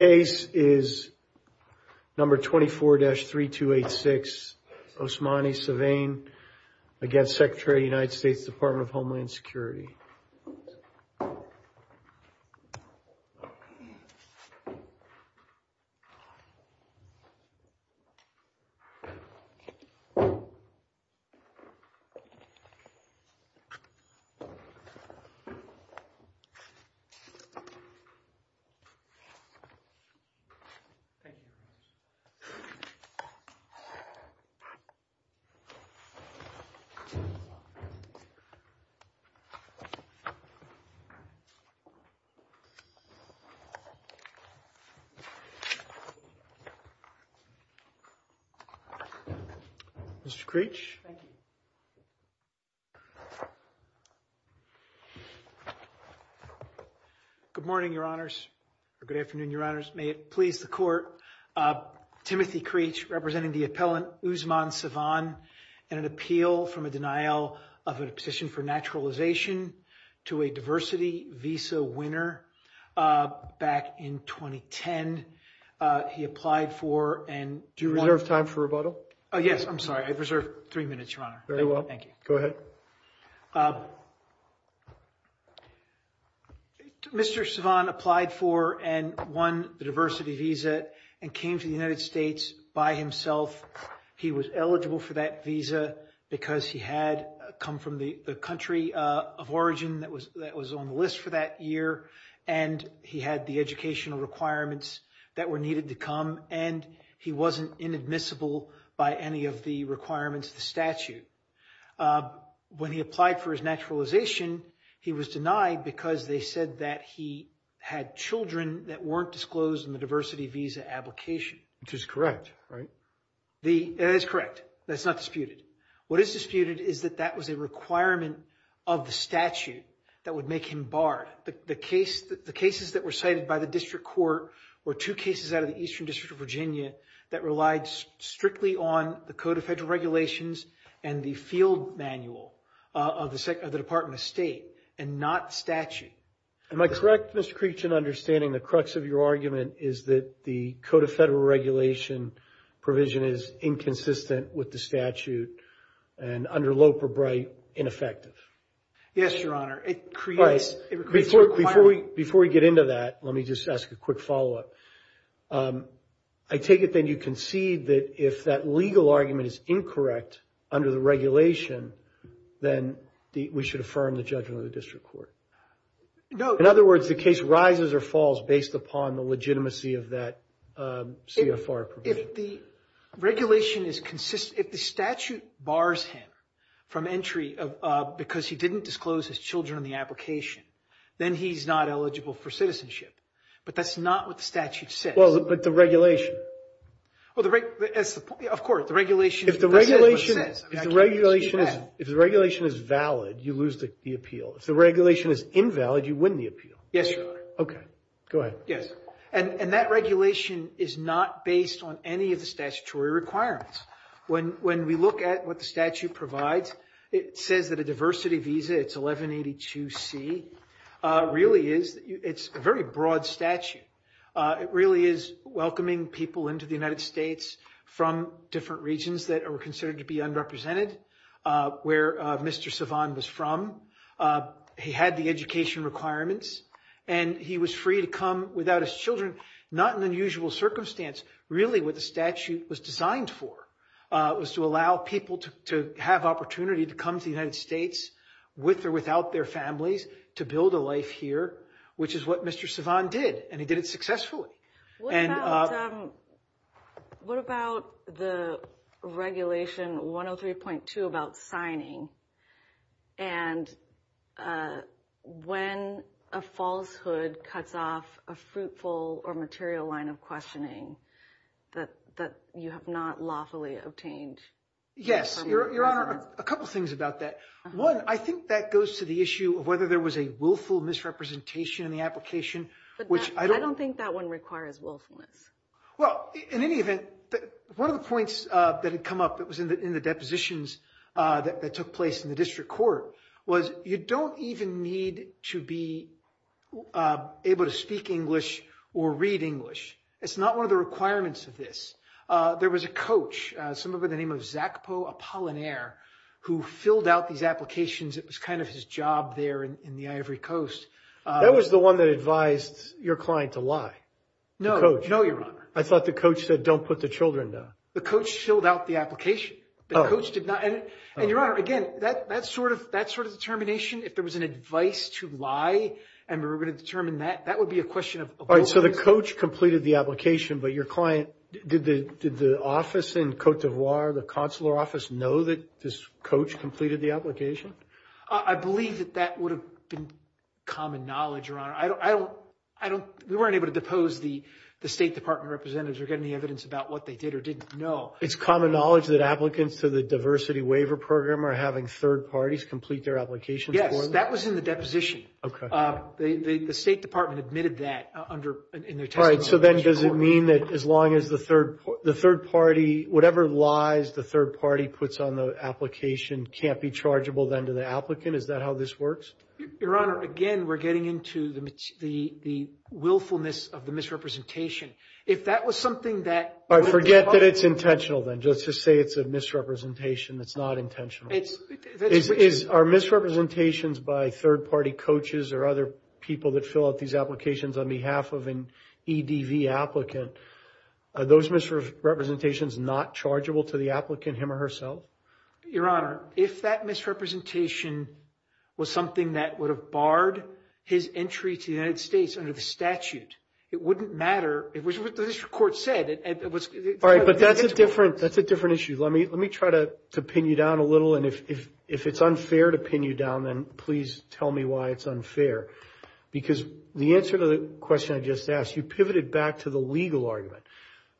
ACE is number 24-3286 Osmani Savane against Secretary of the United States Department of Homeland Security. Thank you. Mr. Creech. Thank you. Good morning, your honors, or good afternoon, your honors. May it please the court. Timothy Creech, representing the appellant Osman Savane in an appeal from a denial of a position for naturalization to a diversity visa winner back in 2010. He applied for and... Do you reserve time for rebuttal? Yes, I'm sorry. I reserve three minutes, your honor. Very well. Thank you. Go ahead. Mr. Savane applied for and won the diversity visa and came to the United States by himself. He was eligible for that visa because he had come from the country of origin that was on the list for that year, and he had the educational requirements that were needed to come, and he wasn't inadmissible by any of the requirements of the statute. When he applied for his naturalization, he was denied because they said that he had children that weren't disclosed in the diversity visa application. Which is correct, right? That is correct. That's not disputed. What is disputed is that that was a requirement of the statute that would make him barred. The cases that were cited by the district court were two cases out of the Eastern District of Virginia that relied strictly on the Code of Federal Regulations and the field manual of the Department of State and not statute. Am I correct, Mr. Creech, in understanding the crux of your argument is that the Code of Federal Regulation provision is inconsistent with the statute and, under Loper-Bright, ineffective? Yes, your honor. Before we get into that, let me just ask a quick follow-up. I take it then you concede that if that legal argument is incorrect under the regulation, then we should affirm the judgment of the district court? No. In other words, the case rises or falls based upon the legitimacy of that CFR provision? If the regulation is consistent, if the statute bars him from entry because he didn't disclose his children in the application, then he's not eligible for citizenship. But that's not what the statute says. But the regulation? Of course, the regulation says what it says. If the regulation is valid, you lose the appeal. If the regulation is invalid, you win the appeal. Yes, your honor. Okay. Go ahead. Yes. And that regulation is not based on any of the statutory requirements. When we look at what the statute provides, it says that a diversity visa, it's 1182C, really is a very broad statute. It really is welcoming people into the United States from different regions that are considered to be underrepresented, where Mr. Savan was from. He had the education requirements, and he was free to come without his children, not in unusual circumstance. Really, what the statute was designed for was to allow people to have opportunity to come to the United States with or without their families to build a life here, which is what Mr. Savan did, and he did it successfully. What about the regulation 103.2 about signing, and when a falsehood cuts off a fruitful or material line of questioning that you have not lawfully obtained? Yes, your honor, a couple things about that. One, I think that goes to the issue of whether there was a willful misrepresentation in the application. But I don't think that one requires willfulness. Well, in any event, one of the points that had come up that was in the depositions that took place in the district court was you don't even need to be able to speak English or read English. It's not one of the requirements of this. There was a coach, someone by the name of Zakpo Apollinaire, who filled out these applications. It was kind of his job there in the Ivory Coast. That was the one that advised your client to lie, the coach. No, your honor. I thought the coach said don't put the children down. The coach filled out the application. The coach did not. And your honor, again, that sort of determination, if there was an advice to lie and we were going to determine that, that would be a question of willfulness. All right, so the coach completed the application, but your client, did the office in Cote d'Ivoire, the consular office, know that this coach completed the application? I believe that that would have been common knowledge, your honor. We weren't able to depose the State Department representatives or get any evidence about what they did or didn't know. It's common knowledge that applicants to the diversity waiver program are having third parties complete their applications for them? Yes, that was in the deposition. Okay. The State Department admitted that in their testimony. All right, so then does it mean that as long as the third party, whatever lies the third party puts on the application can't be chargeable then to the applicant? Is that how this works? Your honor, again, we're getting into the willfulness of the misrepresentation. If that was something that – All right, forget that it's intentional then. Let's just say it's a misrepresentation that's not intentional. Are misrepresentations by third party coaches or other people that fill out these applications on behalf of an EDV applicant, are those misrepresentations not chargeable to the applicant him or herself? Your honor, if that misrepresentation was something that would have barred his entry to the United States under the statute, it wouldn't matter. It was what the district court said. All right, but that's a different issue. Let me try to pin you down a little, and if it's unfair to pin you down, then please tell me why it's unfair. Because the answer to the question I just asked, you pivoted back to the legal argument.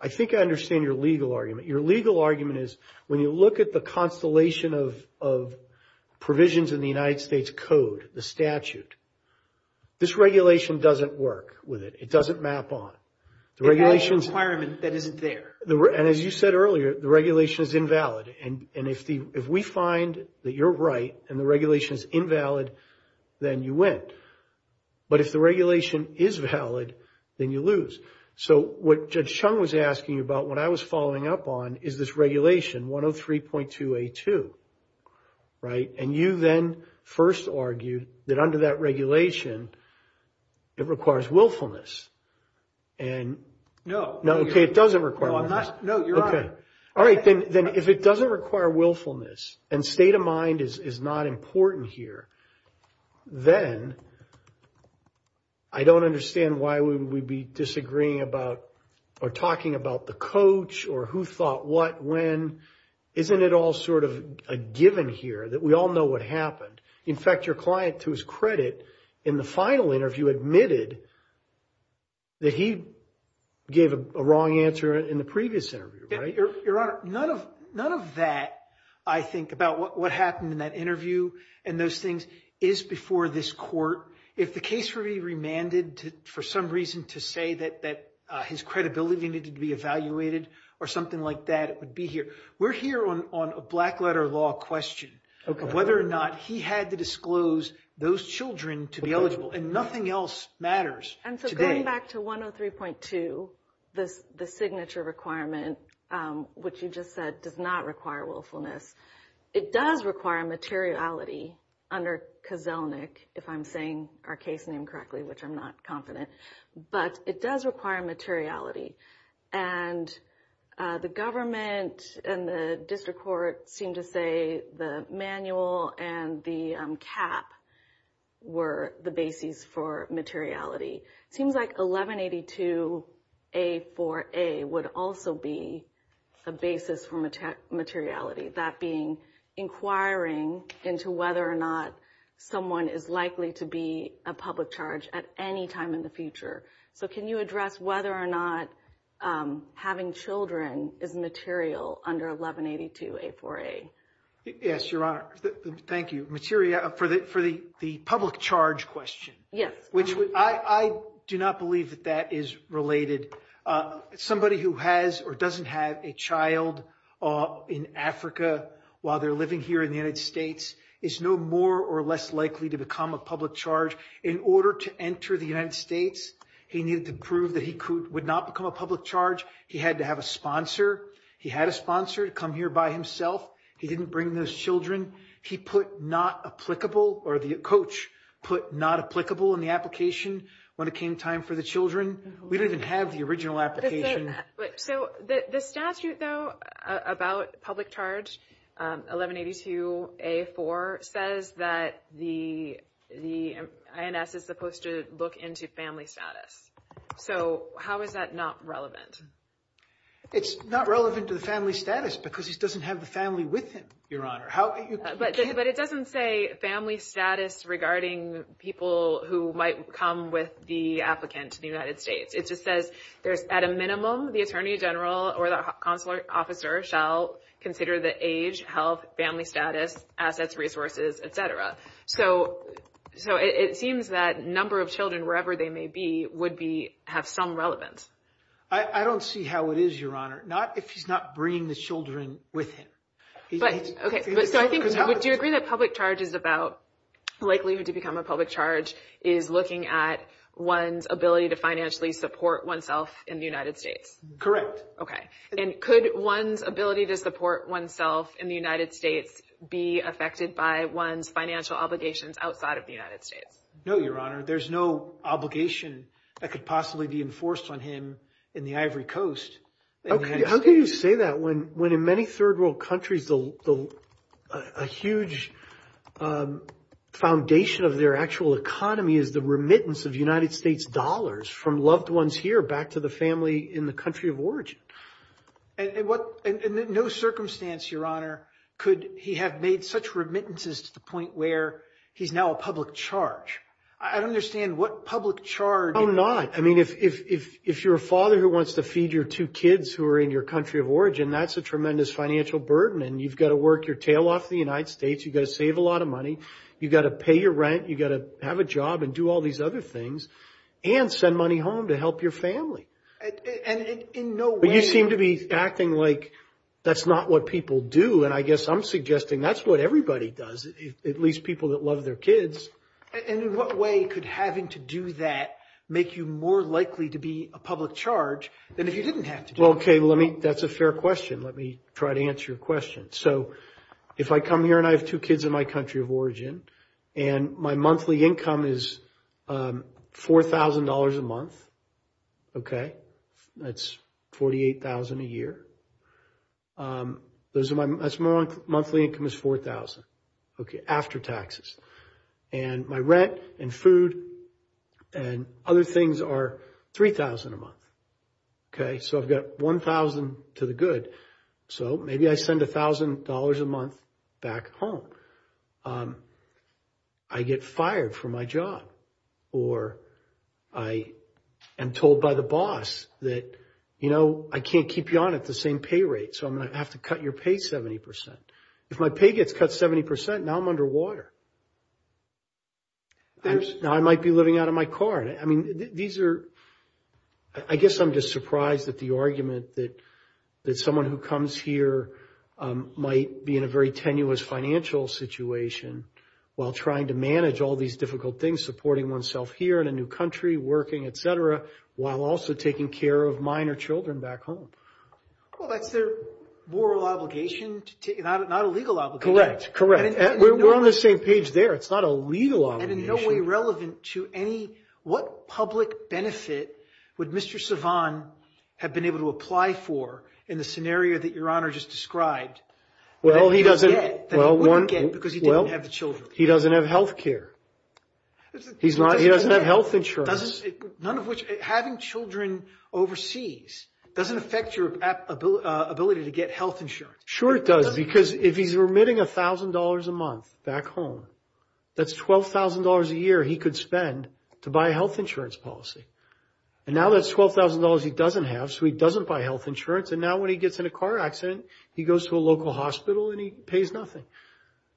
I think I understand your legal argument. Your legal argument is when you look at the constellation of provisions in the United States Code, the statute, this regulation doesn't work with it. It doesn't map on. It has a requirement that isn't there. As you said earlier, the regulation is invalid. If we find that you're right and the regulation is invalid, then you win. But if the regulation is valid, then you lose. What Judge Chung was asking about, what I was following up on, is this regulation, 103.2A2. You then first argued that under that regulation, it requires willfulness. No. No, okay, it doesn't require willfulness. No, you're right. All right, then if it doesn't require willfulness and state of mind is not important here, then I don't understand why we would be disagreeing about or talking about the coach or who thought what when. Isn't it all sort of a given here that we all know what happened? In fact, your client, to his credit, in the final interview admitted that he gave a wrong answer in the previous interview, right? Your Honor, none of that, I think, about what happened in that interview and those things is before this court. If the case were to be remanded for some reason to say that his credibility needed to be evaluated or something like that, it would be here. We're here on a black letter law question of whether or not he had to disclose those children to be eligible, and nothing else matters today. And so going back to 103.2, the signature requirement, which you just said, does not require willfulness. It does require materiality under Kozelnik, if I'm saying our case name correctly, which I'm not confident, but it does require materiality. And the government and the district court seem to say the manual and the cap were the basis for materiality. Seems like 1182A4A would also be a basis for materiality, that being inquiring into whether or not someone is likely to be a public charge at any time in the future. So can you address whether or not having children is material under 1182A4A? Yes, Your Honor. Thank you. Materiality for the public charge question. Yes. I do not believe that that is related. Somebody who has or doesn't have a child in Africa while they're living here in the United States is no more or less likely to become a public charge. In order to enter the United States, he needed to prove that he would not become a public charge. He had to have a sponsor. He had a sponsor to come here by himself. He didn't bring those children. He put not applicable or the coach put not applicable in the application when it came time for the children. We don't even have the original application. So the statute, though, about public charge 1182A4 says that the INS is supposed to look into family status. So how is that not relevant? It's not relevant to the family status because he doesn't have the family with him, Your Honor. But it doesn't say family status regarding people who might come with the applicant to the United States. It just says there's at a minimum the attorney general or the consular officer shall consider the age, health, family status, assets, resources, etc. So it seems that number of children, wherever they may be, would be have some relevance. I don't see how it is, Your Honor. Not if he's not bringing the children with him. Do you agree that public charge is about likelihood to become a public charge is looking at one's ability to financially support oneself in the United States? And could one's ability to support oneself in the United States be affected by one's financial obligations outside of the United States? No, Your Honor. There's no obligation that could possibly be enforced on him in the Ivory Coast. How can you say that when in many third world countries, a huge foundation of their actual economy is the remittance of United States dollars from loved ones here back to the family in the country of origin? And in no circumstance, Your Honor, could he have made such remittances to the point where he's now a public charge? I don't understand what public charge... No, not. I mean, if you're a father who wants to feed your two kids who are in your country of origin, that's a tremendous financial burden. And you've got to work your tail off the United States. You've got to save a lot of money. You've got to pay your rent. You've got to have a job and do all these other things and send money home to help your family. But you seem to be acting like that's not what people do. And I guess I'm suggesting that's what everybody does, at least people that love their kids. And in what way could having to do that make you more likely to be a public charge than if you didn't have to do it? Well, OK, let me... That's a fair question. Let me try to answer your question. So if I come here and I have two kids in my country of origin and my monthly income is $4,000 a month, OK, that's $48,000 a year. That's my monthly income is $4,000, OK, after taxes. And my rent and food and other things are $3,000 a month. OK, so I've got $1,000 to the good. So maybe I send $1,000 a month back home. I get fired from my job or I am told by the boss that, you know, I can't keep you on at the same pay rate. So I'm going to have to cut your pay 70 percent. If my pay gets cut 70 percent, now I'm underwater. Now I might be living out of my car. I mean, these are... I guess I'm just surprised that the argument that someone who comes here might be in a very tenuous financial situation while trying to manage all these difficult things, supporting oneself here in a new country, working, etc., while also taking care of minor children back home. Well, that's their moral obligation, not a legal obligation. Correct, correct. We're on the same page there. It's not a legal obligation. And in no way relevant to any... What public benefit would Mr. Savan have been able to apply for in the scenario that Your Honor just described? Well, he doesn't... That he wouldn't get because he didn't have the children. He doesn't have health care. He doesn't have health insurance. None of which... Having children overseas doesn't affect your ability to get health insurance. Sure it does, because if he's remitting $1,000 a month back home, that's $12,000 a year he could spend to buy a health insurance policy. And now that's $12,000 he doesn't have, so he doesn't buy health insurance. And now when he gets in a car accident, he goes to a local hospital and he pays nothing.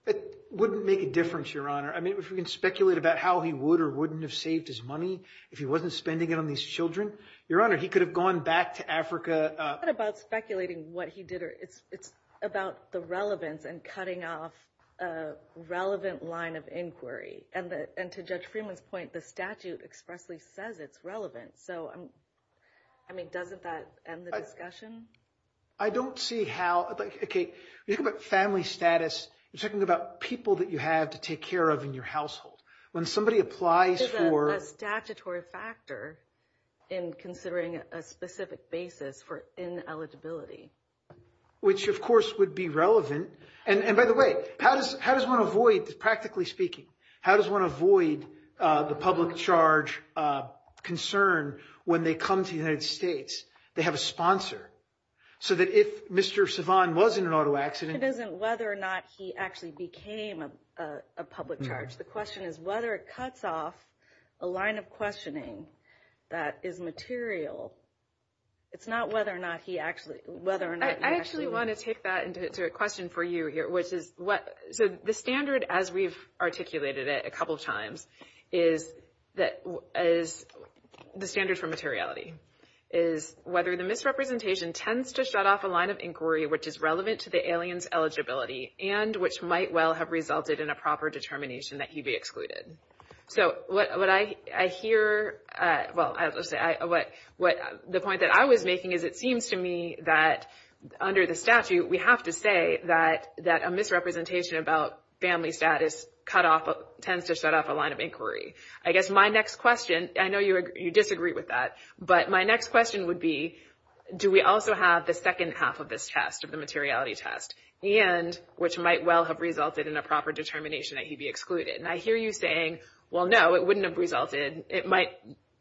It wouldn't make a difference, Your Honor. I mean, if we can speculate about how he would or wouldn't have saved his money if he wasn't spending it on these children. Your Honor, he could have gone back to Africa... ...about the relevance and cutting off a relevant line of inquiry. And to Judge Freeman's point, the statute expressly says it's relevant. So, I mean, doesn't that end the discussion? I don't see how... Okay, you're talking about family status. You're talking about people that you have to take care of in your household. When somebody applies for... There's a statutory factor in considering a specific basis for ineligibility. Which, of course, would be relevant. And by the way, how does one avoid, practically speaking... ...how does one avoid the public charge concern when they come to the United States? They have a sponsor. So that if Mr. Sivan was in an auto accident... It isn't whether or not he actually became a public charge. The question is whether it cuts off a line of questioning that is material. It's not whether or not he actually... I actually want to take that into a question for you here. So the standard, as we've articulated it a couple of times, is the standard for materiality. Is whether the misrepresentation tends to shut off a line of inquiry... ...which is relevant to the alien's eligibility... ...and which might well have resulted in a proper determination that he be excluded. So what I hear... Well, the point that I was making is it seems to me that under the statute... ...we have to say that a misrepresentation about family status tends to shut off a line of inquiry. I guess my next question... I know you disagree with that, but my next question would be... ...do we also have the second half of this test, of the materiality test? And which might well have resulted in a proper determination that he be excluded. And I hear you saying, well, no, it wouldn't have resulted.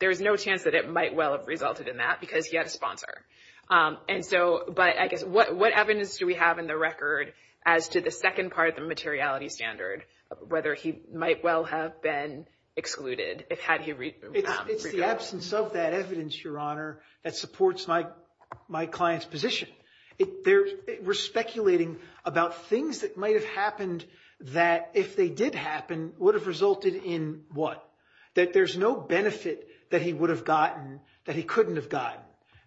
There's no chance that it might well have resulted in that because he had a sponsor. But I guess what evidence do we have in the record as to the second part of the materiality standard... ...whether he might well have been excluded had he... It's the absence of that evidence, Your Honor, that supports my client's position. We're speculating about things that might have happened that, if they did happen, would have resulted in what? That there's no benefit that he would have gotten that he couldn't have gotten.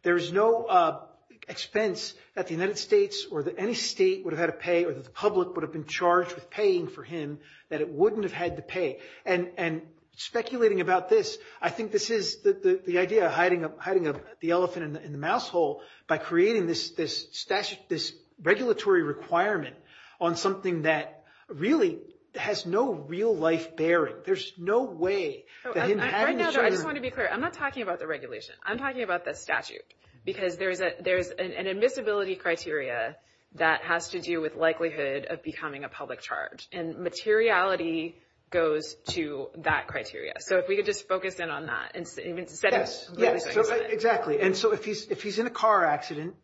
There's no expense that the United States or that any state would have had to pay... ...or that the public would have been charged with paying for him that it wouldn't have had to pay. And speculating about this, I think this is the idea of hiding the elephant in the mouse hole... ...by creating this regulatory requirement on something that really has no real-life bearing. There's no way that him having the... Right now, though, I just want to be clear. I'm not talking about the regulation. I'm talking about the statute because there's an admissibility criteria that has to do with likelihood of becoming a public charge. And materiality goes to that criteria. So if we could just focus in on that and set a... Yes, exactly. And so if he's in a car accident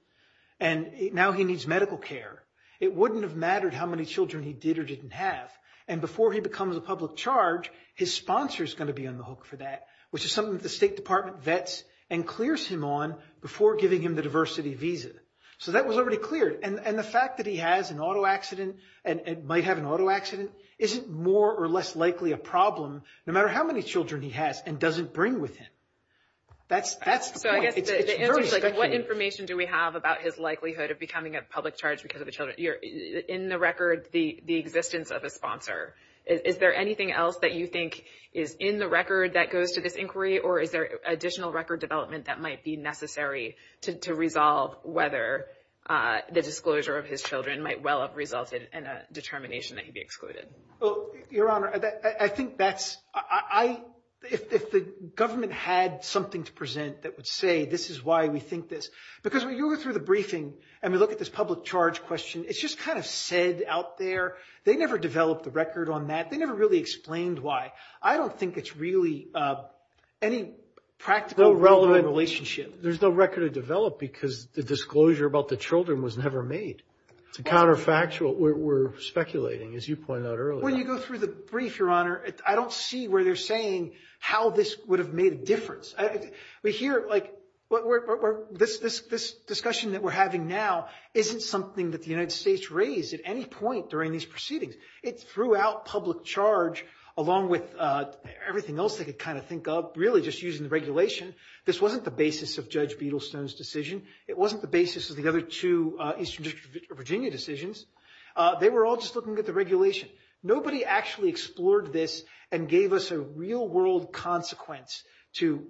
and now he needs medical care... ...it wouldn't have mattered how many children he did or didn't have. And before he becomes a public charge, his sponsor is going to be on the hook for that... ...which is something that the State Department vets and clears him on before giving him the diversity visa. So that was already cleared. And the fact that he has an auto accident and might have an auto accident... ...isn't more or less likely a problem no matter how many children he has and doesn't bring with him. That's the point. So I guess the answer is, like, what information do we have about his likelihood of becoming a public charge because of the children? In the record, the existence of a sponsor. Is there anything else that you think is in the record that goes to this inquiry... ...or is there additional record development that might be necessary to resolve... ...whether the disclosure of his children might well have resulted in a determination that he be excluded? Well, Your Honor, I think that's... If the government had something to present that would say, this is why we think this... ...because when you go through the briefing and we look at this public charge question... ...it's just kind of said out there. They never developed a record on that. They never really explained why. I don't think it's really any practical, relevant relationship. There's no record to develop because the disclosure about the children was never made. It's a counterfactual. We're speculating, as you pointed out earlier. When you go through the brief, Your Honor, I don't see where they're saying how this would have made a difference. We hear, like, this discussion that we're having now isn't something that the United States raised at any point during these proceedings. It's throughout public charge, along with everything else they could kind of think of, really just using the regulation. This wasn't the basis of Judge Beadlestone's decision. It wasn't the basis of the other two Eastern District of Virginia decisions. They were all just looking at the regulation. Nobody actually explored this and gave us a real-world consequence to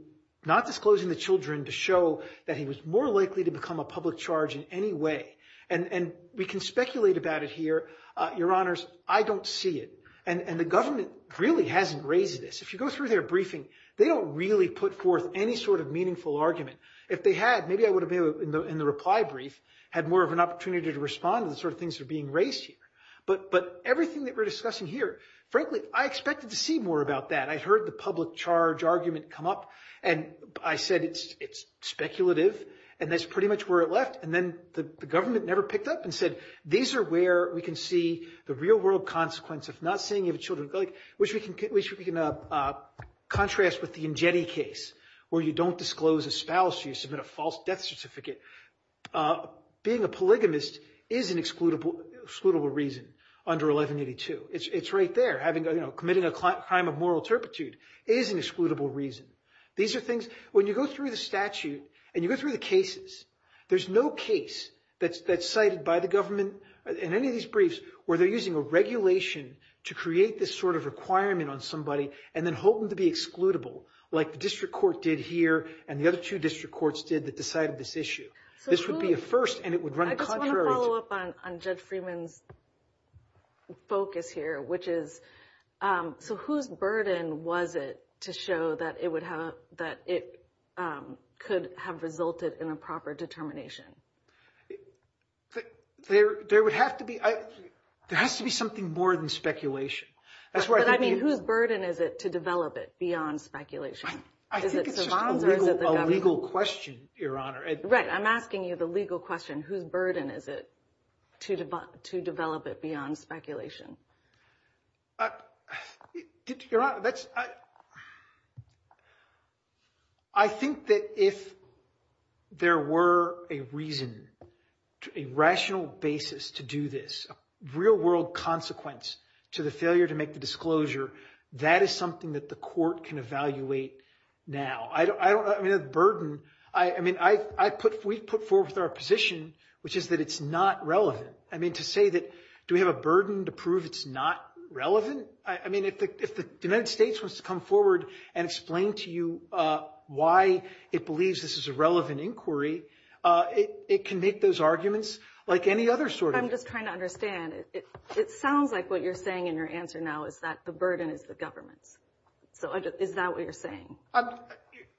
not disclosing the children... ...to show that he was more likely to become a public charge in any way. And we can speculate about it here. Your Honors, I don't see it. And the government really hasn't raised this. If you go through their briefing, they don't really put forth any sort of meaningful argument. If they had, maybe I would have, in the reply brief, had more of an opportunity to respond to the sort of things that are being raised here. But everything that we're discussing here, frankly, I expected to see more about that. I heard the public charge argument come up, and I said it's speculative, and that's pretty much where it left. And then the government never picked up and said, these are where we can see the real-world consequence of not saying you have children. Which we can contrast with the Ingetti case, where you don't disclose a spouse, you submit a false death certificate. Being a polygamist is an excludable reason under 1182. It's right there. Committing a crime of moral turpitude is an excludable reason. When you go through the statute and you go through the cases, there's no case that's cited by the government in any of these briefs... where they're using a regulation to create this sort of requirement on somebody, and then hoping to be excludable. Like the district court did here, and the other two district courts did that decided this issue. This would be a first, and it would run contrary to... I just want to follow up on Judge Freeman's focus here, which is... So whose burden was it to show that it could have resulted in a proper determination? There would have to be... there has to be something more than speculation. But I mean, whose burden is it to develop it beyond speculation? I think it's just a legal question, Your Honor. Right, I'm asking you the legal question. Whose burden is it to develop it beyond speculation? Your Honor, that's... I think that if there were a reason, a rational basis to do this, a real-world consequence to the failure to make the disclosure, that is something that the court can evaluate now. I don't... I mean, the burden... I mean, I put... we put forth our position, which is that it's not relevant. I mean, to say that... do we have a burden to prove it's not relevant? I mean, if the United States wants to come forward and explain to you why it believes this is a relevant inquiry, it can make those arguments like any other sort of... I'm just trying to understand. It sounds like what you're saying in your answer now is that the burden is the government's. So is that what you're saying?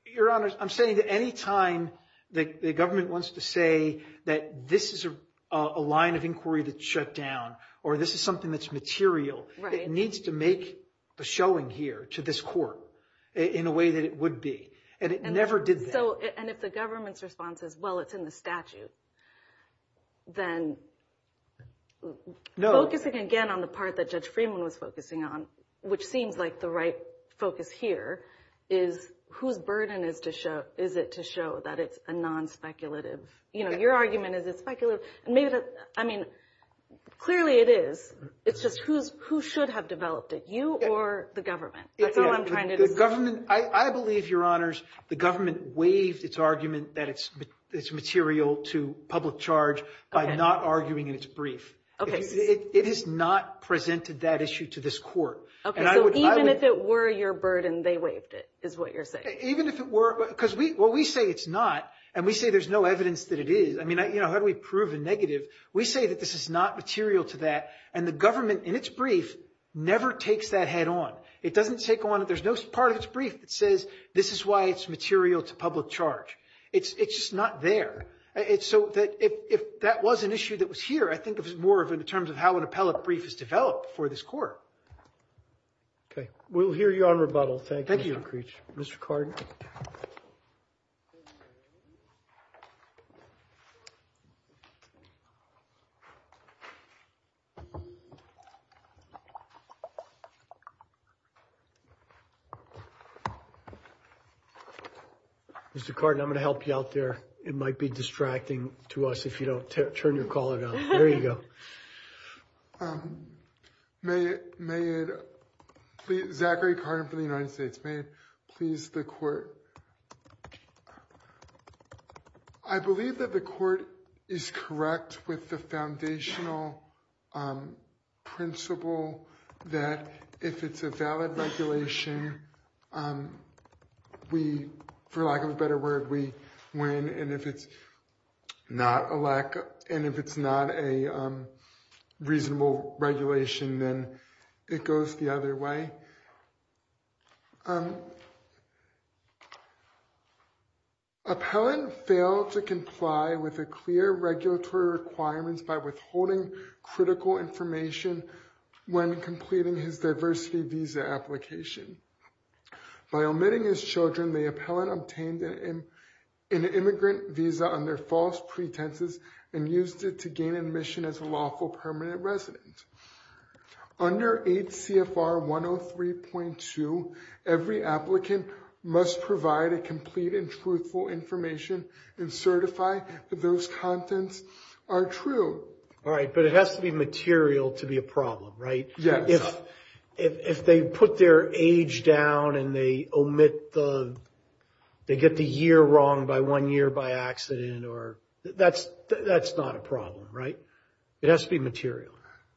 Your Honor, I'm saying that any time the government wants to say that this is a line of inquiry that's shut down, or this is something that's material, it needs to make a showing here to this court in a way that it would be. And it never did that. And if the government's response is, well, it's in the statute, then... Focusing again on the part that Judge Freeman was focusing on, which seems like the right focus here, is whose burden is it to show that it's a non-speculative... you know, your argument is it's speculative. I mean, clearly it is. It's just who should have developed it, you or the government. That's all I'm trying to... The government... I believe, Your Honors, the government waived its argument that it's material to public charge by not arguing in its brief. It has not presented that issue to this court. So even if it were your burden, they waived it, is what you're saying? Even if it were... because what we say it's not, and we say there's no evidence that it is. I mean, how do we prove a negative? We say that this is not material to that, and the government, in its brief, never takes that head on. It doesn't take on... there's no part of its brief that says this is why it's material to public charge. It's just not there. So if that was an issue that was here, I think it was more in terms of how an appellate brief is developed for this court. We'll hear you on rebuttal. Thank you, Mr. Creech. Thank you. Mr. Cardin. Mr. Cardin, I'm going to help you out there. It might be distracting to us if you don't turn your caller down. There you go. May it... Zachary Cardin from the United States. May it please the court. I believe that the court is correct with the foundational principle that if it's a valid regulation, we, for lack of a better word, we win, and if it's not a reasonable regulation, then it goes the other way. Appellant failed to comply with the clear regulatory requirements by withholding critical information when completing his diversity visa application. By omitting his children, the appellant obtained an immigrant visa under false pretenses and used it to gain admission as a lawful permanent resident. Under 8 CFR 103.2, every applicant must provide a complete and truthful information and certify that those contents are true. All right, but it has to be material to be a problem, right? Yes. If they put their age down and they omit the... They get the year wrong by one year by accident or... That's not a problem, right? It has to be material.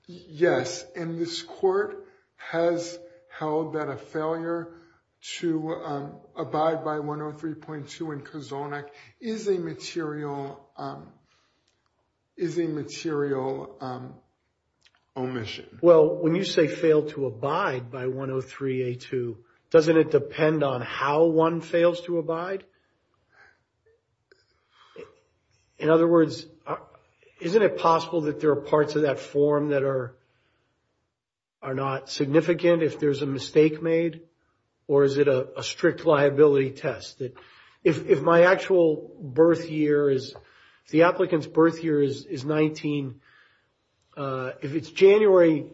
Yes, and this court has held that a failure to abide by 103.2 in Kozolnik is a material omission. Well, when you say failed to abide by 103.2, doesn't it depend on how one fails to abide? In other words, isn't it possible that there are parts of that form that are not significant if there's a mistake made, or is it a strict liability test? If my actual birth year is... If the applicant's birth year is 19... If it's January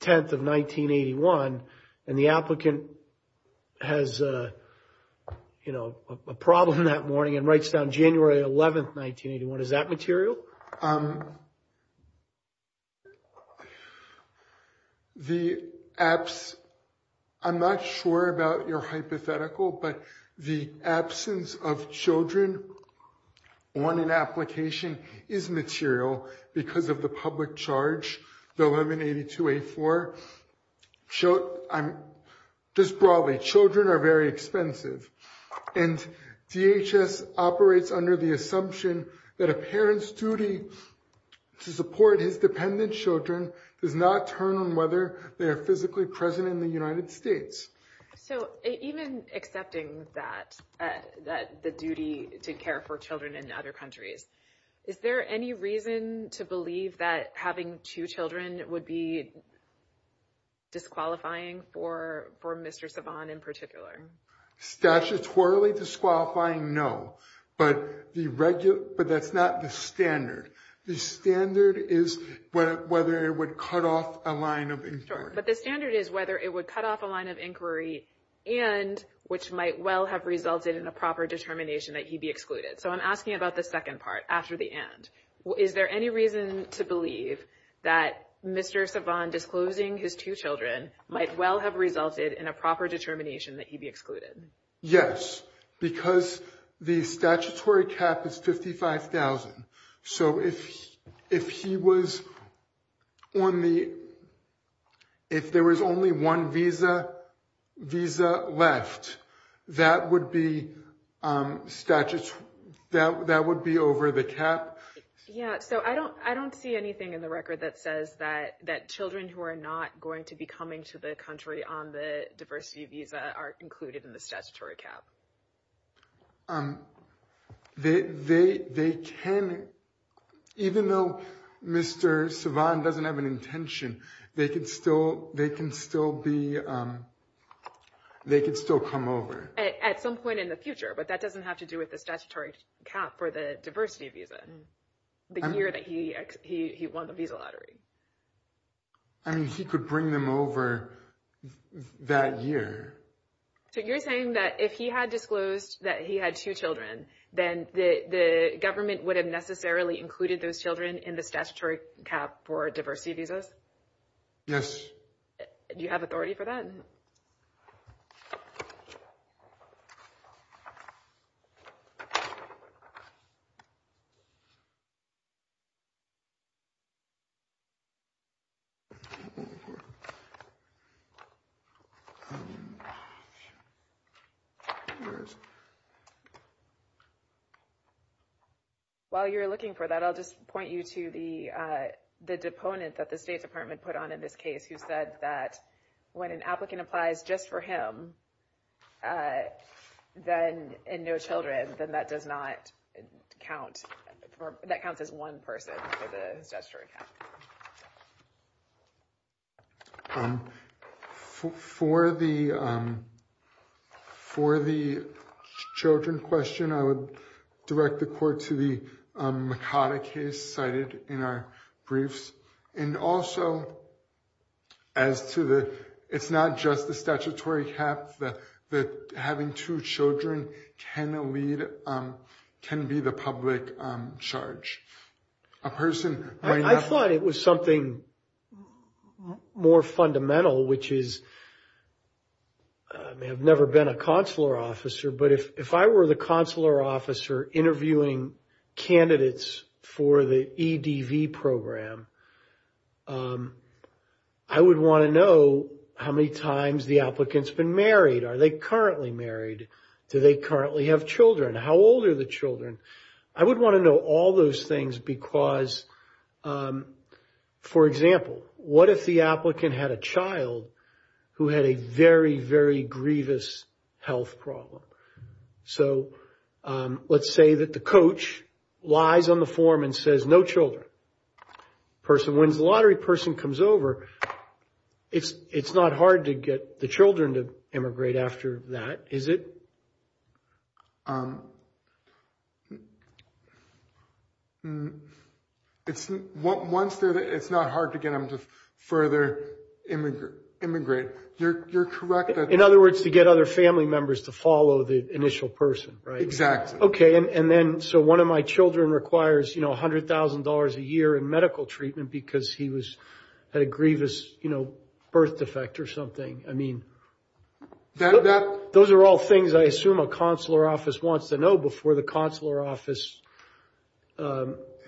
10th of 1981 and the applicant has, you know, a problem that morning and writes down January 11th, 1981, is that material? The... I'm not sure about your hypothetical, but the absence of children on an application is material because of the public charge, the 1182A4. Just broadly, children are very expensive. And DHS operates under the assumption that a parent's duty to support his dependent children does not turn on whether they are physically present in the United States. So even accepting that, the duty to care for children in other countries, is there any reason to believe that having two children would be disqualifying for Mr. Savan in particular? Statutorily disqualifying, no. But that's not the standard. The standard is whether it would cut off a line of inquiry. But the standard is whether it would cut off a line of inquiry and which might well have resulted in a proper determination that he be excluded. So I'm asking about the second part, after the and. Is there any reason to believe that Mr. Savan disclosing his two children might well have resulted in a proper determination that he be excluded? Yes, because the statutory cap is 55,000. So if there was only one visa left, that would be over the cap? Yeah, so I don't see anything in the record that says that children who are not going to be coming to the country on the diversity visa are included in the statutory cap. They can, even though Mr. Savan doesn't have an intention, they can still come over. At some point in the future, but that doesn't have to do with the statutory cap for the diversity visa, the year that he won the visa lottery. I mean, he could bring them over that year. So you're saying that if he had disclosed that he had two children, then the government would have necessarily included those children in the statutory cap for diversity visas? Yes. Do you have authority for that? While you're looking for that, I'll just point you to the the deponent that the State Department put on in this case, who said that when an applicant applies just for him, then and no children, then that does not count. That counts as one person for the statutory cap. For the for the children question, I would direct the court to the Makata case cited in our briefs. And also as to the it's not just the statutory cap that having two children can lead can be the public charge. I thought it was something more fundamental, which is I have never been a consular officer. But if I were the consular officer interviewing candidates for the EDV program, I would want to know how many times the applicants been married. Are they currently married? Do they currently have children? How old are the children? I would want to know all those things because, for example, what if the applicant had a child who had a very, very grievous health problem? So let's say that the coach lies on the form and says no children. When the lottery person comes over, it's not hard to get the children to immigrate after that, is it? It's not hard to get them to further immigrate. You're correct. In other words, to get other family members to follow the initial person. Exactly. OK, and then so one of my children requires, you know, one hundred thousand dollars a year in medical treatment because he was at a grievous, you know, birth defect or something. I mean, that those are all things I assume a consular office wants to know before the consular office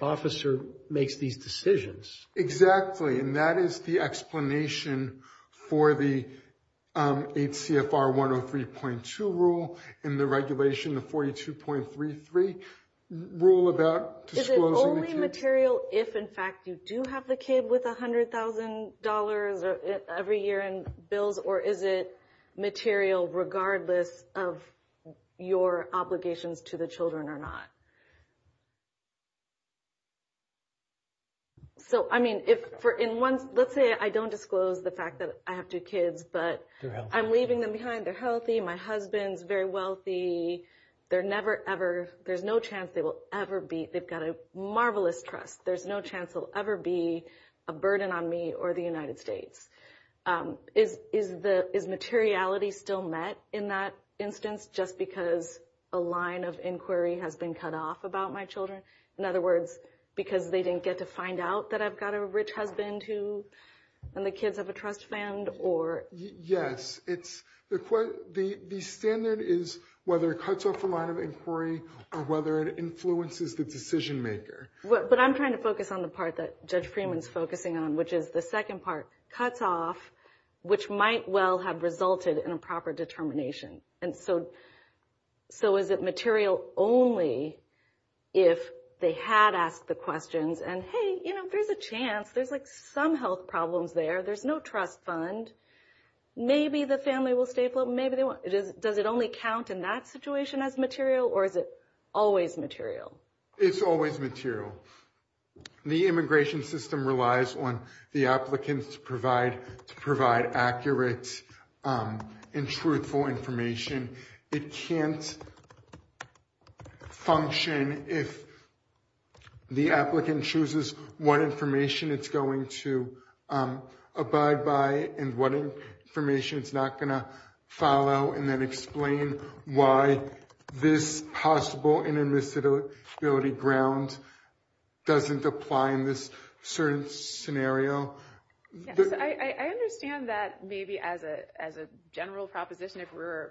officer makes these decisions. Exactly. And that is the explanation for the HCFR one or three point two rule in the regulation, the forty two point three three rule about material. If in fact you do have the kid with one hundred thousand dollars every year and bills, or is it material regardless of your obligations to the children or not? So, I mean, if for in one, let's say I don't disclose the fact that I have two kids, but I'm leaving them behind. They're healthy. My husband's very wealthy. They're never, ever. There's no chance they will ever be. They've got a marvelous trust. There's no chance he'll ever be a burden on me or the United States. Is is the is materiality still met in that instance, just because a line of inquiry has been cut off about my children? In other words, because they didn't get to find out that I've got a rich husband who and the kids have a trust fund or. Yes, it's the the standard is whether it cuts off a line of inquiry or whether it influences the decision maker. But I'm trying to focus on the part that Judge Freeman's focusing on, which is the second part cuts off, which might well have resulted in a proper determination. And so so is it material only if they had asked the questions and hey, you know, there's a chance there's like some health problems there. There's no trust fund. Maybe the family will stay. Does it only count in that situation as material or is it always material? It's always material. The immigration system relies on the applicants to provide to provide accurate and truthful information. It can't function if the applicant chooses what information it's going to abide by and what information it's not going to follow and then explain why this possible and invisibility ground doesn't apply in this certain scenario. I understand that maybe as a as a general proposition, if we're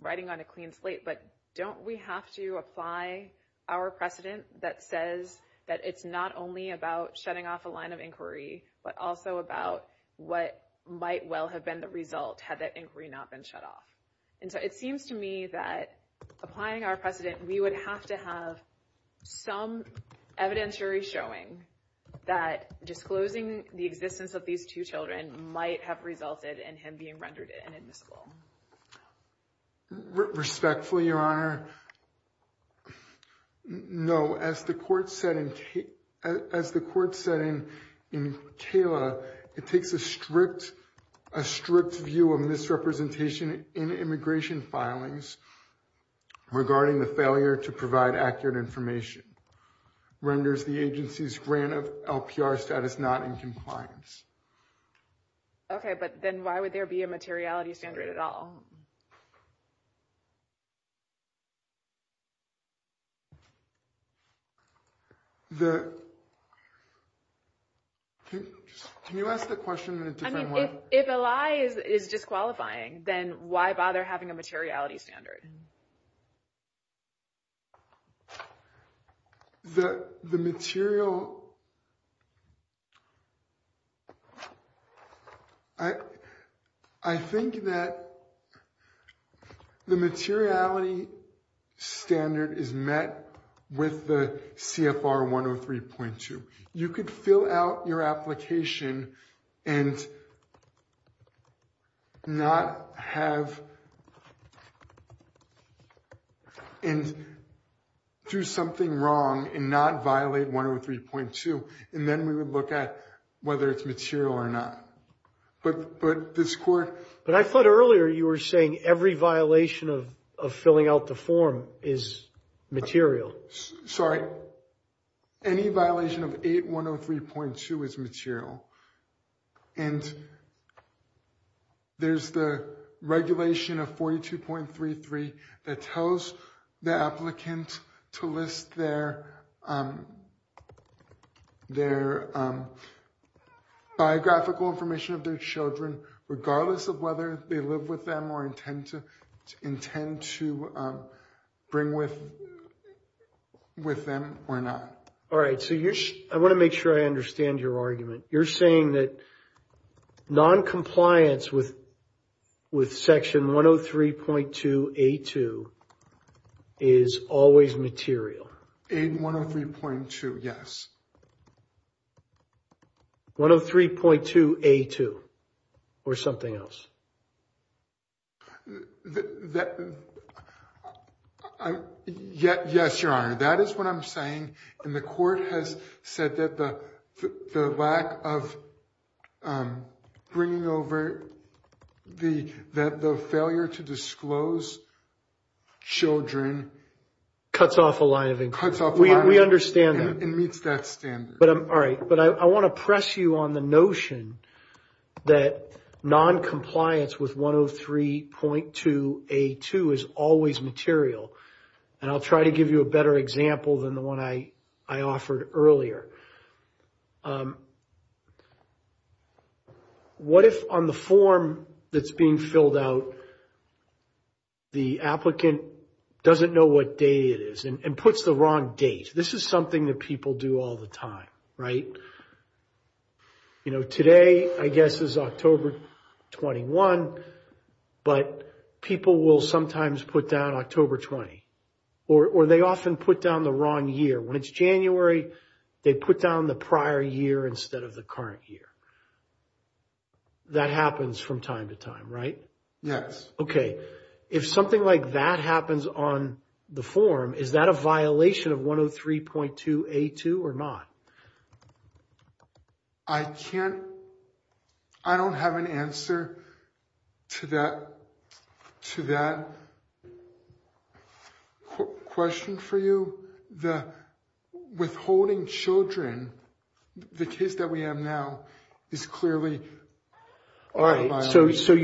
writing on a clean slate, but don't we have to apply our precedent that says that it's not only about shutting off a line of inquiry, but also about what might well have been the result had that inquiry not been shut off. And so it seems to me that applying our precedent, we would have to have some evidentiary showing that disclosing the existence of these two children might have resulted in him being rendered inadmissible. Respectfully, Your Honor. No, as the court said, as the court said in Kayla, it takes a strict, a strict view of misrepresentation in immigration filings regarding the failure to provide accurate information renders the agency's grant of LPR status not in compliance. Okay, but then why would there be a materiality standard at all? The. Can you ask the question in a different way? If a lie is disqualifying, then why bother having a materiality standard? Sorry. The material. I, I think that the materiality standard is met with the CFR 103.2. You could fill out your application and not have and do something wrong and not violate 103.2. And then we would look at whether it's material or not. But but this court, but I thought earlier you were saying every violation of of filling out the form is material. Sorry. Any violation of 8103.2 is material. And there's the regulation of 42.33 that tells the applicant to list their their biographical information of their children, regardless of whether they live with them or intend to intend to bring with with them or not. All right. So I want to make sure I understand your argument. You're saying that noncompliance with with Section 103.2. A2 is always material. 8103.2. Yes. 103.2. A2 or something else. Yet. Yes. Your Honor, that is what I'm saying. And the court has said that the lack of bringing over the that the failure to disclose children cuts off a line of inquiry. We understand that. It meets that standard. All right. But I want to press you on the notion that noncompliance with 103.2. A2 is always material. And I'll try to give you a better example than the one I I offered earlier. What if on the form that's being filled out? The applicant doesn't know what day it is and puts the wrong date. This is something that people do all the time. Right. You know, today, I guess, is October 21. But people will sometimes put down October 20. Or they often put down the wrong year. When it's January, they put down the prior year instead of the current year. That happens from time to time, right? Yes. Okay. If something like that happens on the form, is that a violation of 103.2 A2 or not? I can't. I don't have an answer to that to that question for you. The withholding children, the kids that we have now is clearly. All right. So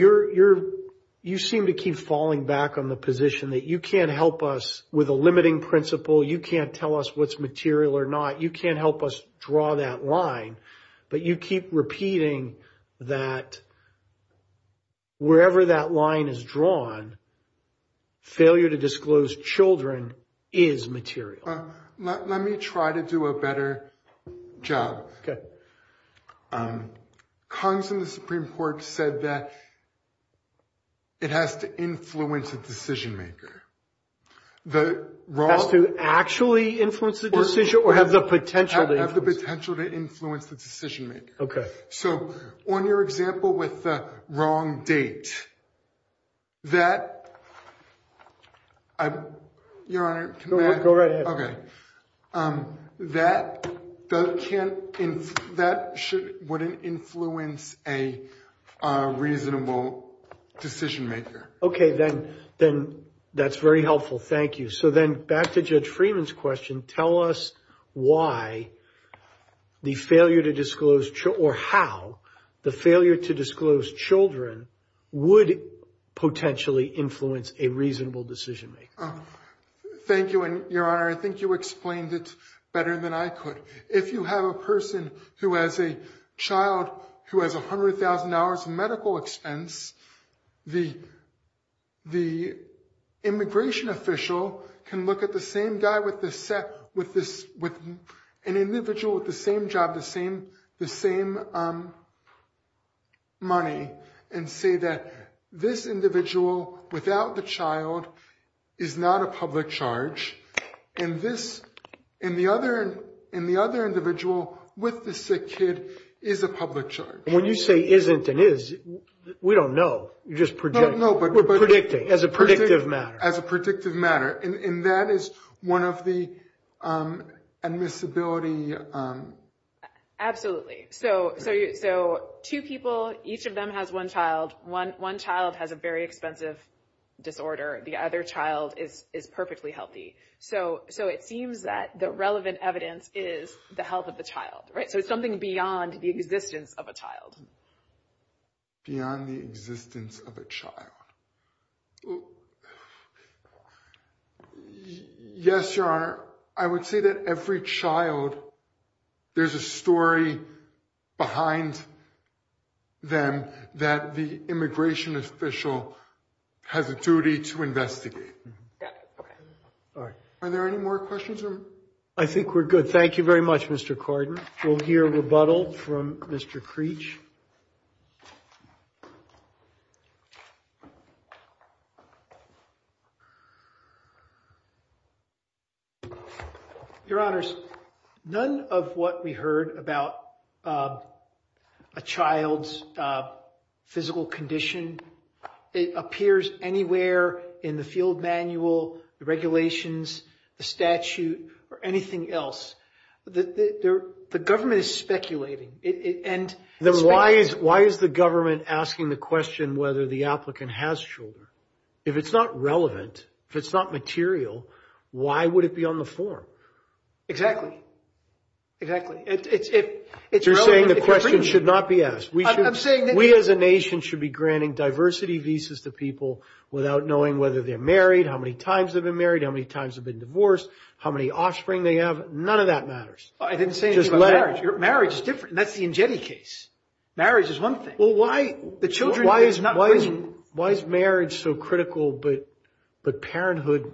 you seem to keep falling back on the position that you can't help us with a limiting principle. You can't tell us what's material or not. You can't help us draw that line. But you keep repeating that wherever that line is drawn, failure to disclose children is material. Let me try to do a better job. Kongs in the Supreme Court said that it has to influence the decision maker. Has to actually influence the decision or have the potential to influence? Have the potential to influence the decision maker. Okay. So on your example with the wrong date, that. Your Honor, can I? Go right ahead. Okay. That can't. That wouldn't influence a reasonable decision maker. Okay, then. Then that's very helpful. Thank you. So then back to Judge Freeman's question. Tell us why the failure to disclose or how the failure to disclose children would potentially influence a reasonable decision maker. Thank you. Your Honor, I think you explained it better than I could. If you have a person who has a child who has $100,000 in medical expense, the immigration official can look at the same guy with an individual with the same job, the same money, and say that this individual without the child is not a public charge. And the other individual with the sick kid is a public charge. When you say isn't and is, we don't know. You're just predicting. We're predicting as a predictive matter. As a predictive matter. And that is one of the admissibility. Absolutely. Okay. So two people, each of them has one child. One child has a very expensive disorder. The other child is perfectly healthy. So it seems that the relevant evidence is the health of the child, right? So it's something beyond the existence of a child. Beyond the existence of a child. Yes, Your Honor. I would say that every child, there's a story behind them that the immigration official has a duty to investigate. Are there any more questions? I think we're good. Thank you very much, Mr. Cardin. We'll hear rebuttal from Mr. Creech. Your Honors, none of what we heard about a child's physical condition, it appears anywhere in the field manual, the regulations, the statute, or anything else. The government is speculating. Then why is the government asking the question whether the applicant has children? If it's not relevant, if it's not material, why would it be on the form? Exactly. You're saying the question should not be asked. We as a nation should be granting diversity visas to people without knowing whether they're married, how many times they've been married, how many times they've been divorced, how many offspring they have. None of that matters. I didn't say anything about marriage. Marriage is different. That's the Ingetti case. Marriage is one thing. Why is marriage so critical but parenthood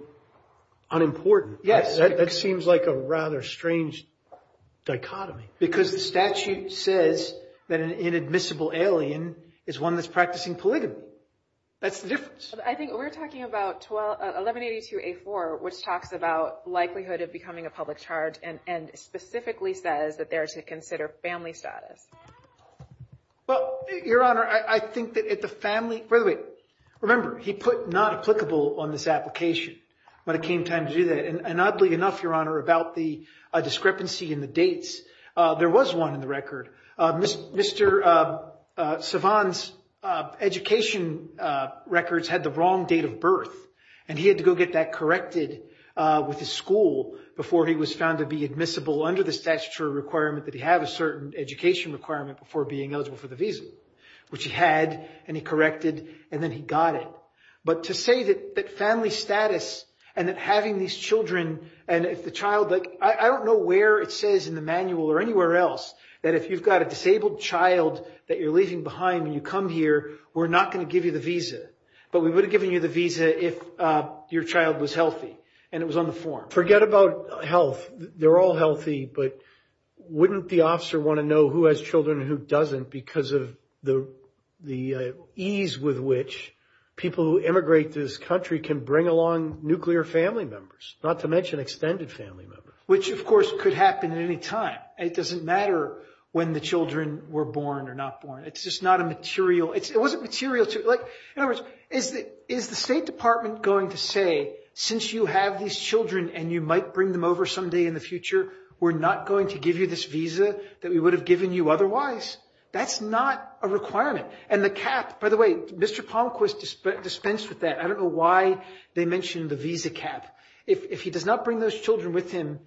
unimportant? Yes. That seems like a rather strange dichotomy. Because the statute says that an inadmissible alien is one that's practicing polygamy. That's the difference. I think we're talking about 1182A4, which talks about likelihood of becoming a public charge and specifically says that they're to consider family status. Well, Your Honor, I think that the family – by the way, remember, he put not applicable on this application when it came time to do that. And oddly enough, Your Honor, about the discrepancy in the dates, there was one in the record. Mr. Savant's education records had the wrong date of birth, and he had to go get that corrected with his school before he was found to be admissible under the statutory requirement that he have a certain education requirement before being eligible for the visa, which he had, and he corrected, and then he got it. But to say that family status and that having these children and if the child – I don't know where it says in the manual or anywhere else that if you've got a disabled child that you're leaving behind when you come here, we're not going to give you the visa. But we would have given you the visa if your child was healthy and it was on the form. Forget about health. They're all healthy, but wouldn't the officer want to know who has children and who doesn't because of the ease with which people who immigrate to this country can bring along nuclear family members, not to mention extended family members? Which, of course, could happen at any time. It doesn't matter when the children were born or not born. It's just not a material – it wasn't material. In other words, is the State Department going to say since you have these children and you might bring them over someday in the future, we're not going to give you this visa that we would have given you otherwise? That's not a requirement. And the cap – by the way, Mr. Pomquist dispensed with that. I don't know why they mentioned the visa cap. If he does not bring those children with him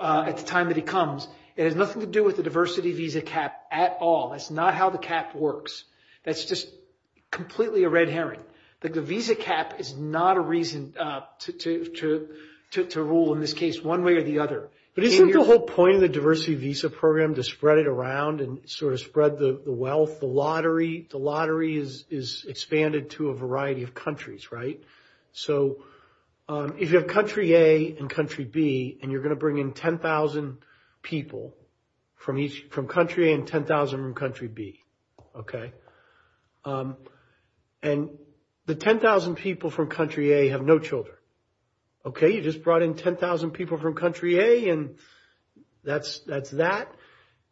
at the time that he comes, it has nothing to do with the diversity visa cap at all. That's not how the cap works. That's just completely a red herring. The visa cap is not a reason to rule in this case one way or the other. But isn't the whole point of the diversity visa program to spread it around and sort of spread the wealth, the lottery? The lottery is expanded to a variety of countries, right? So if you have country A and country B and you're going to bring in 10,000 people from country A and 10,000 from country B, okay? And the 10,000 people from country A have no children, okay? You just brought in 10,000 people from country A and that's that.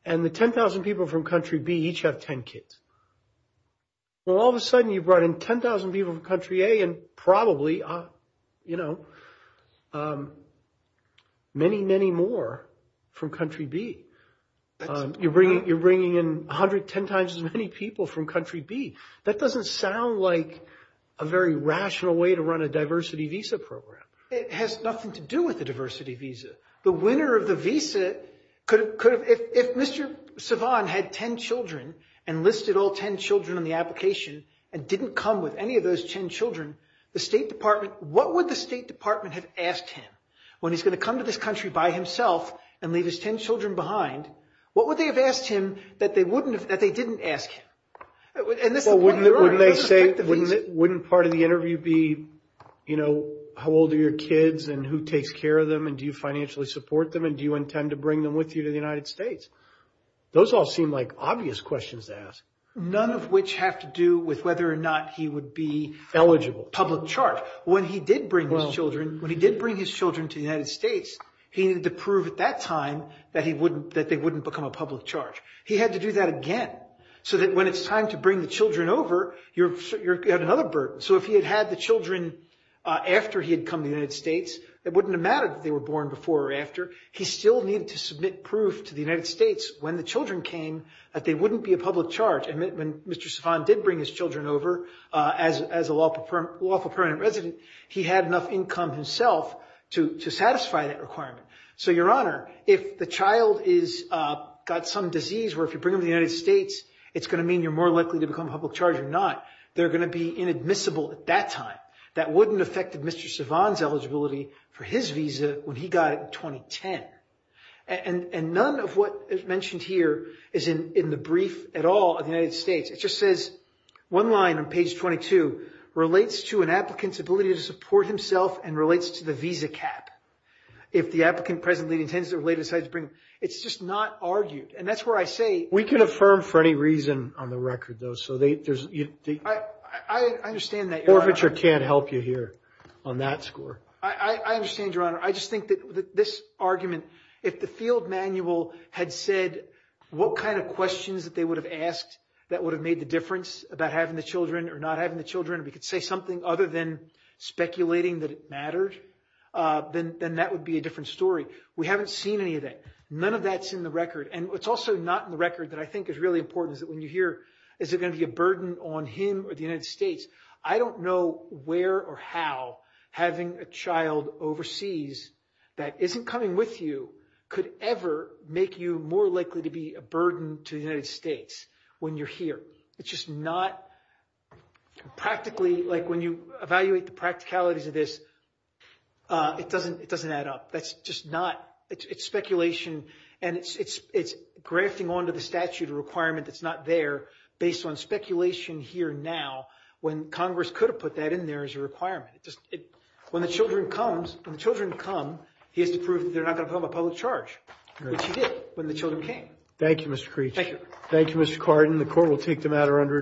And the 10,000 people from country B each have 10 kids. Well, all of a sudden you brought in 10,000 people from country A and probably, you know, many, many more from country B. You're bringing in 110 times as many people from country B. That doesn't sound like a very rational way to run a diversity visa program. It has nothing to do with the diversity visa. The winner of the visa could have—if Mr. Savan had 10 children and listed all 10 children in the application and didn't come with any of those 10 children, the State Department—what would the State Department have asked him when he's going to come to this country by himself and leave his 10 children behind? What would they have asked him that they wouldn't have—that they didn't ask him? Wouldn't part of the interview be, you know, how old are your kids and who takes care of them and do you financially support them and do you intend to bring them with you to the United States? Those all seem like obvious questions to ask. None of which have to do with whether or not he would be— Public charge. When he did bring his children—when he did bring his children to the United States, he needed to prove at that time that they wouldn't become a public charge. He had to do that again so that when it's time to bring the children over, you have another burden. So if he had had the children after he had come to the United States, it wouldn't have mattered if they were born before or after. He still needed to submit proof to the United States when the children came that they wouldn't be a public charge. And when Mr. Savan did bring his children over as a lawful permanent resident, he had enough income himself to satisfy that requirement. So, Your Honor, if the child is—got some disease where if you bring them to the United States, it's going to mean you're more likely to become a public charge or not, they're going to be inadmissible at that time. That wouldn't affect Mr. Savan's eligibility for his visa when he got it in 2010. And none of what is mentioned here is in the brief at all of the United States. It just says—one line on page 22 relates to an applicant's ability to support himself and relates to the visa cap. If the applicant presently intends to—it's just not argued. And that's where I say— We can affirm for any reason on the record, though. So there's— I understand that, Your Honor. Forfeiture can't help you here on that score. I understand, Your Honor. I just think that this argument—if the field manual had said what kind of questions that they would have asked that would have made the difference about having the children or not having the children, we could say something other than speculating that it mattered, then that would be a different story. We haven't seen any of that. None of that's in the record. And what's also not in the record that I think is really important is that when you hear, is it going to be a burden on him or the United States, I don't know where or how having a child overseas that isn't coming with you could ever make you more likely to be a burden to the United States when you're here. It's just not practically—like when you evaluate the practicalities of this, it doesn't add up. That's just not—it's speculation, and it's grafting onto the statute a requirement that's not there based on speculation here now when Congress could have put that in there as a requirement. When the children come, he has to prove that they're not going to become a public charge, which he did when the children came. Thank you, Mr. Creech. Thank you. Thank you, Mr. Cardin.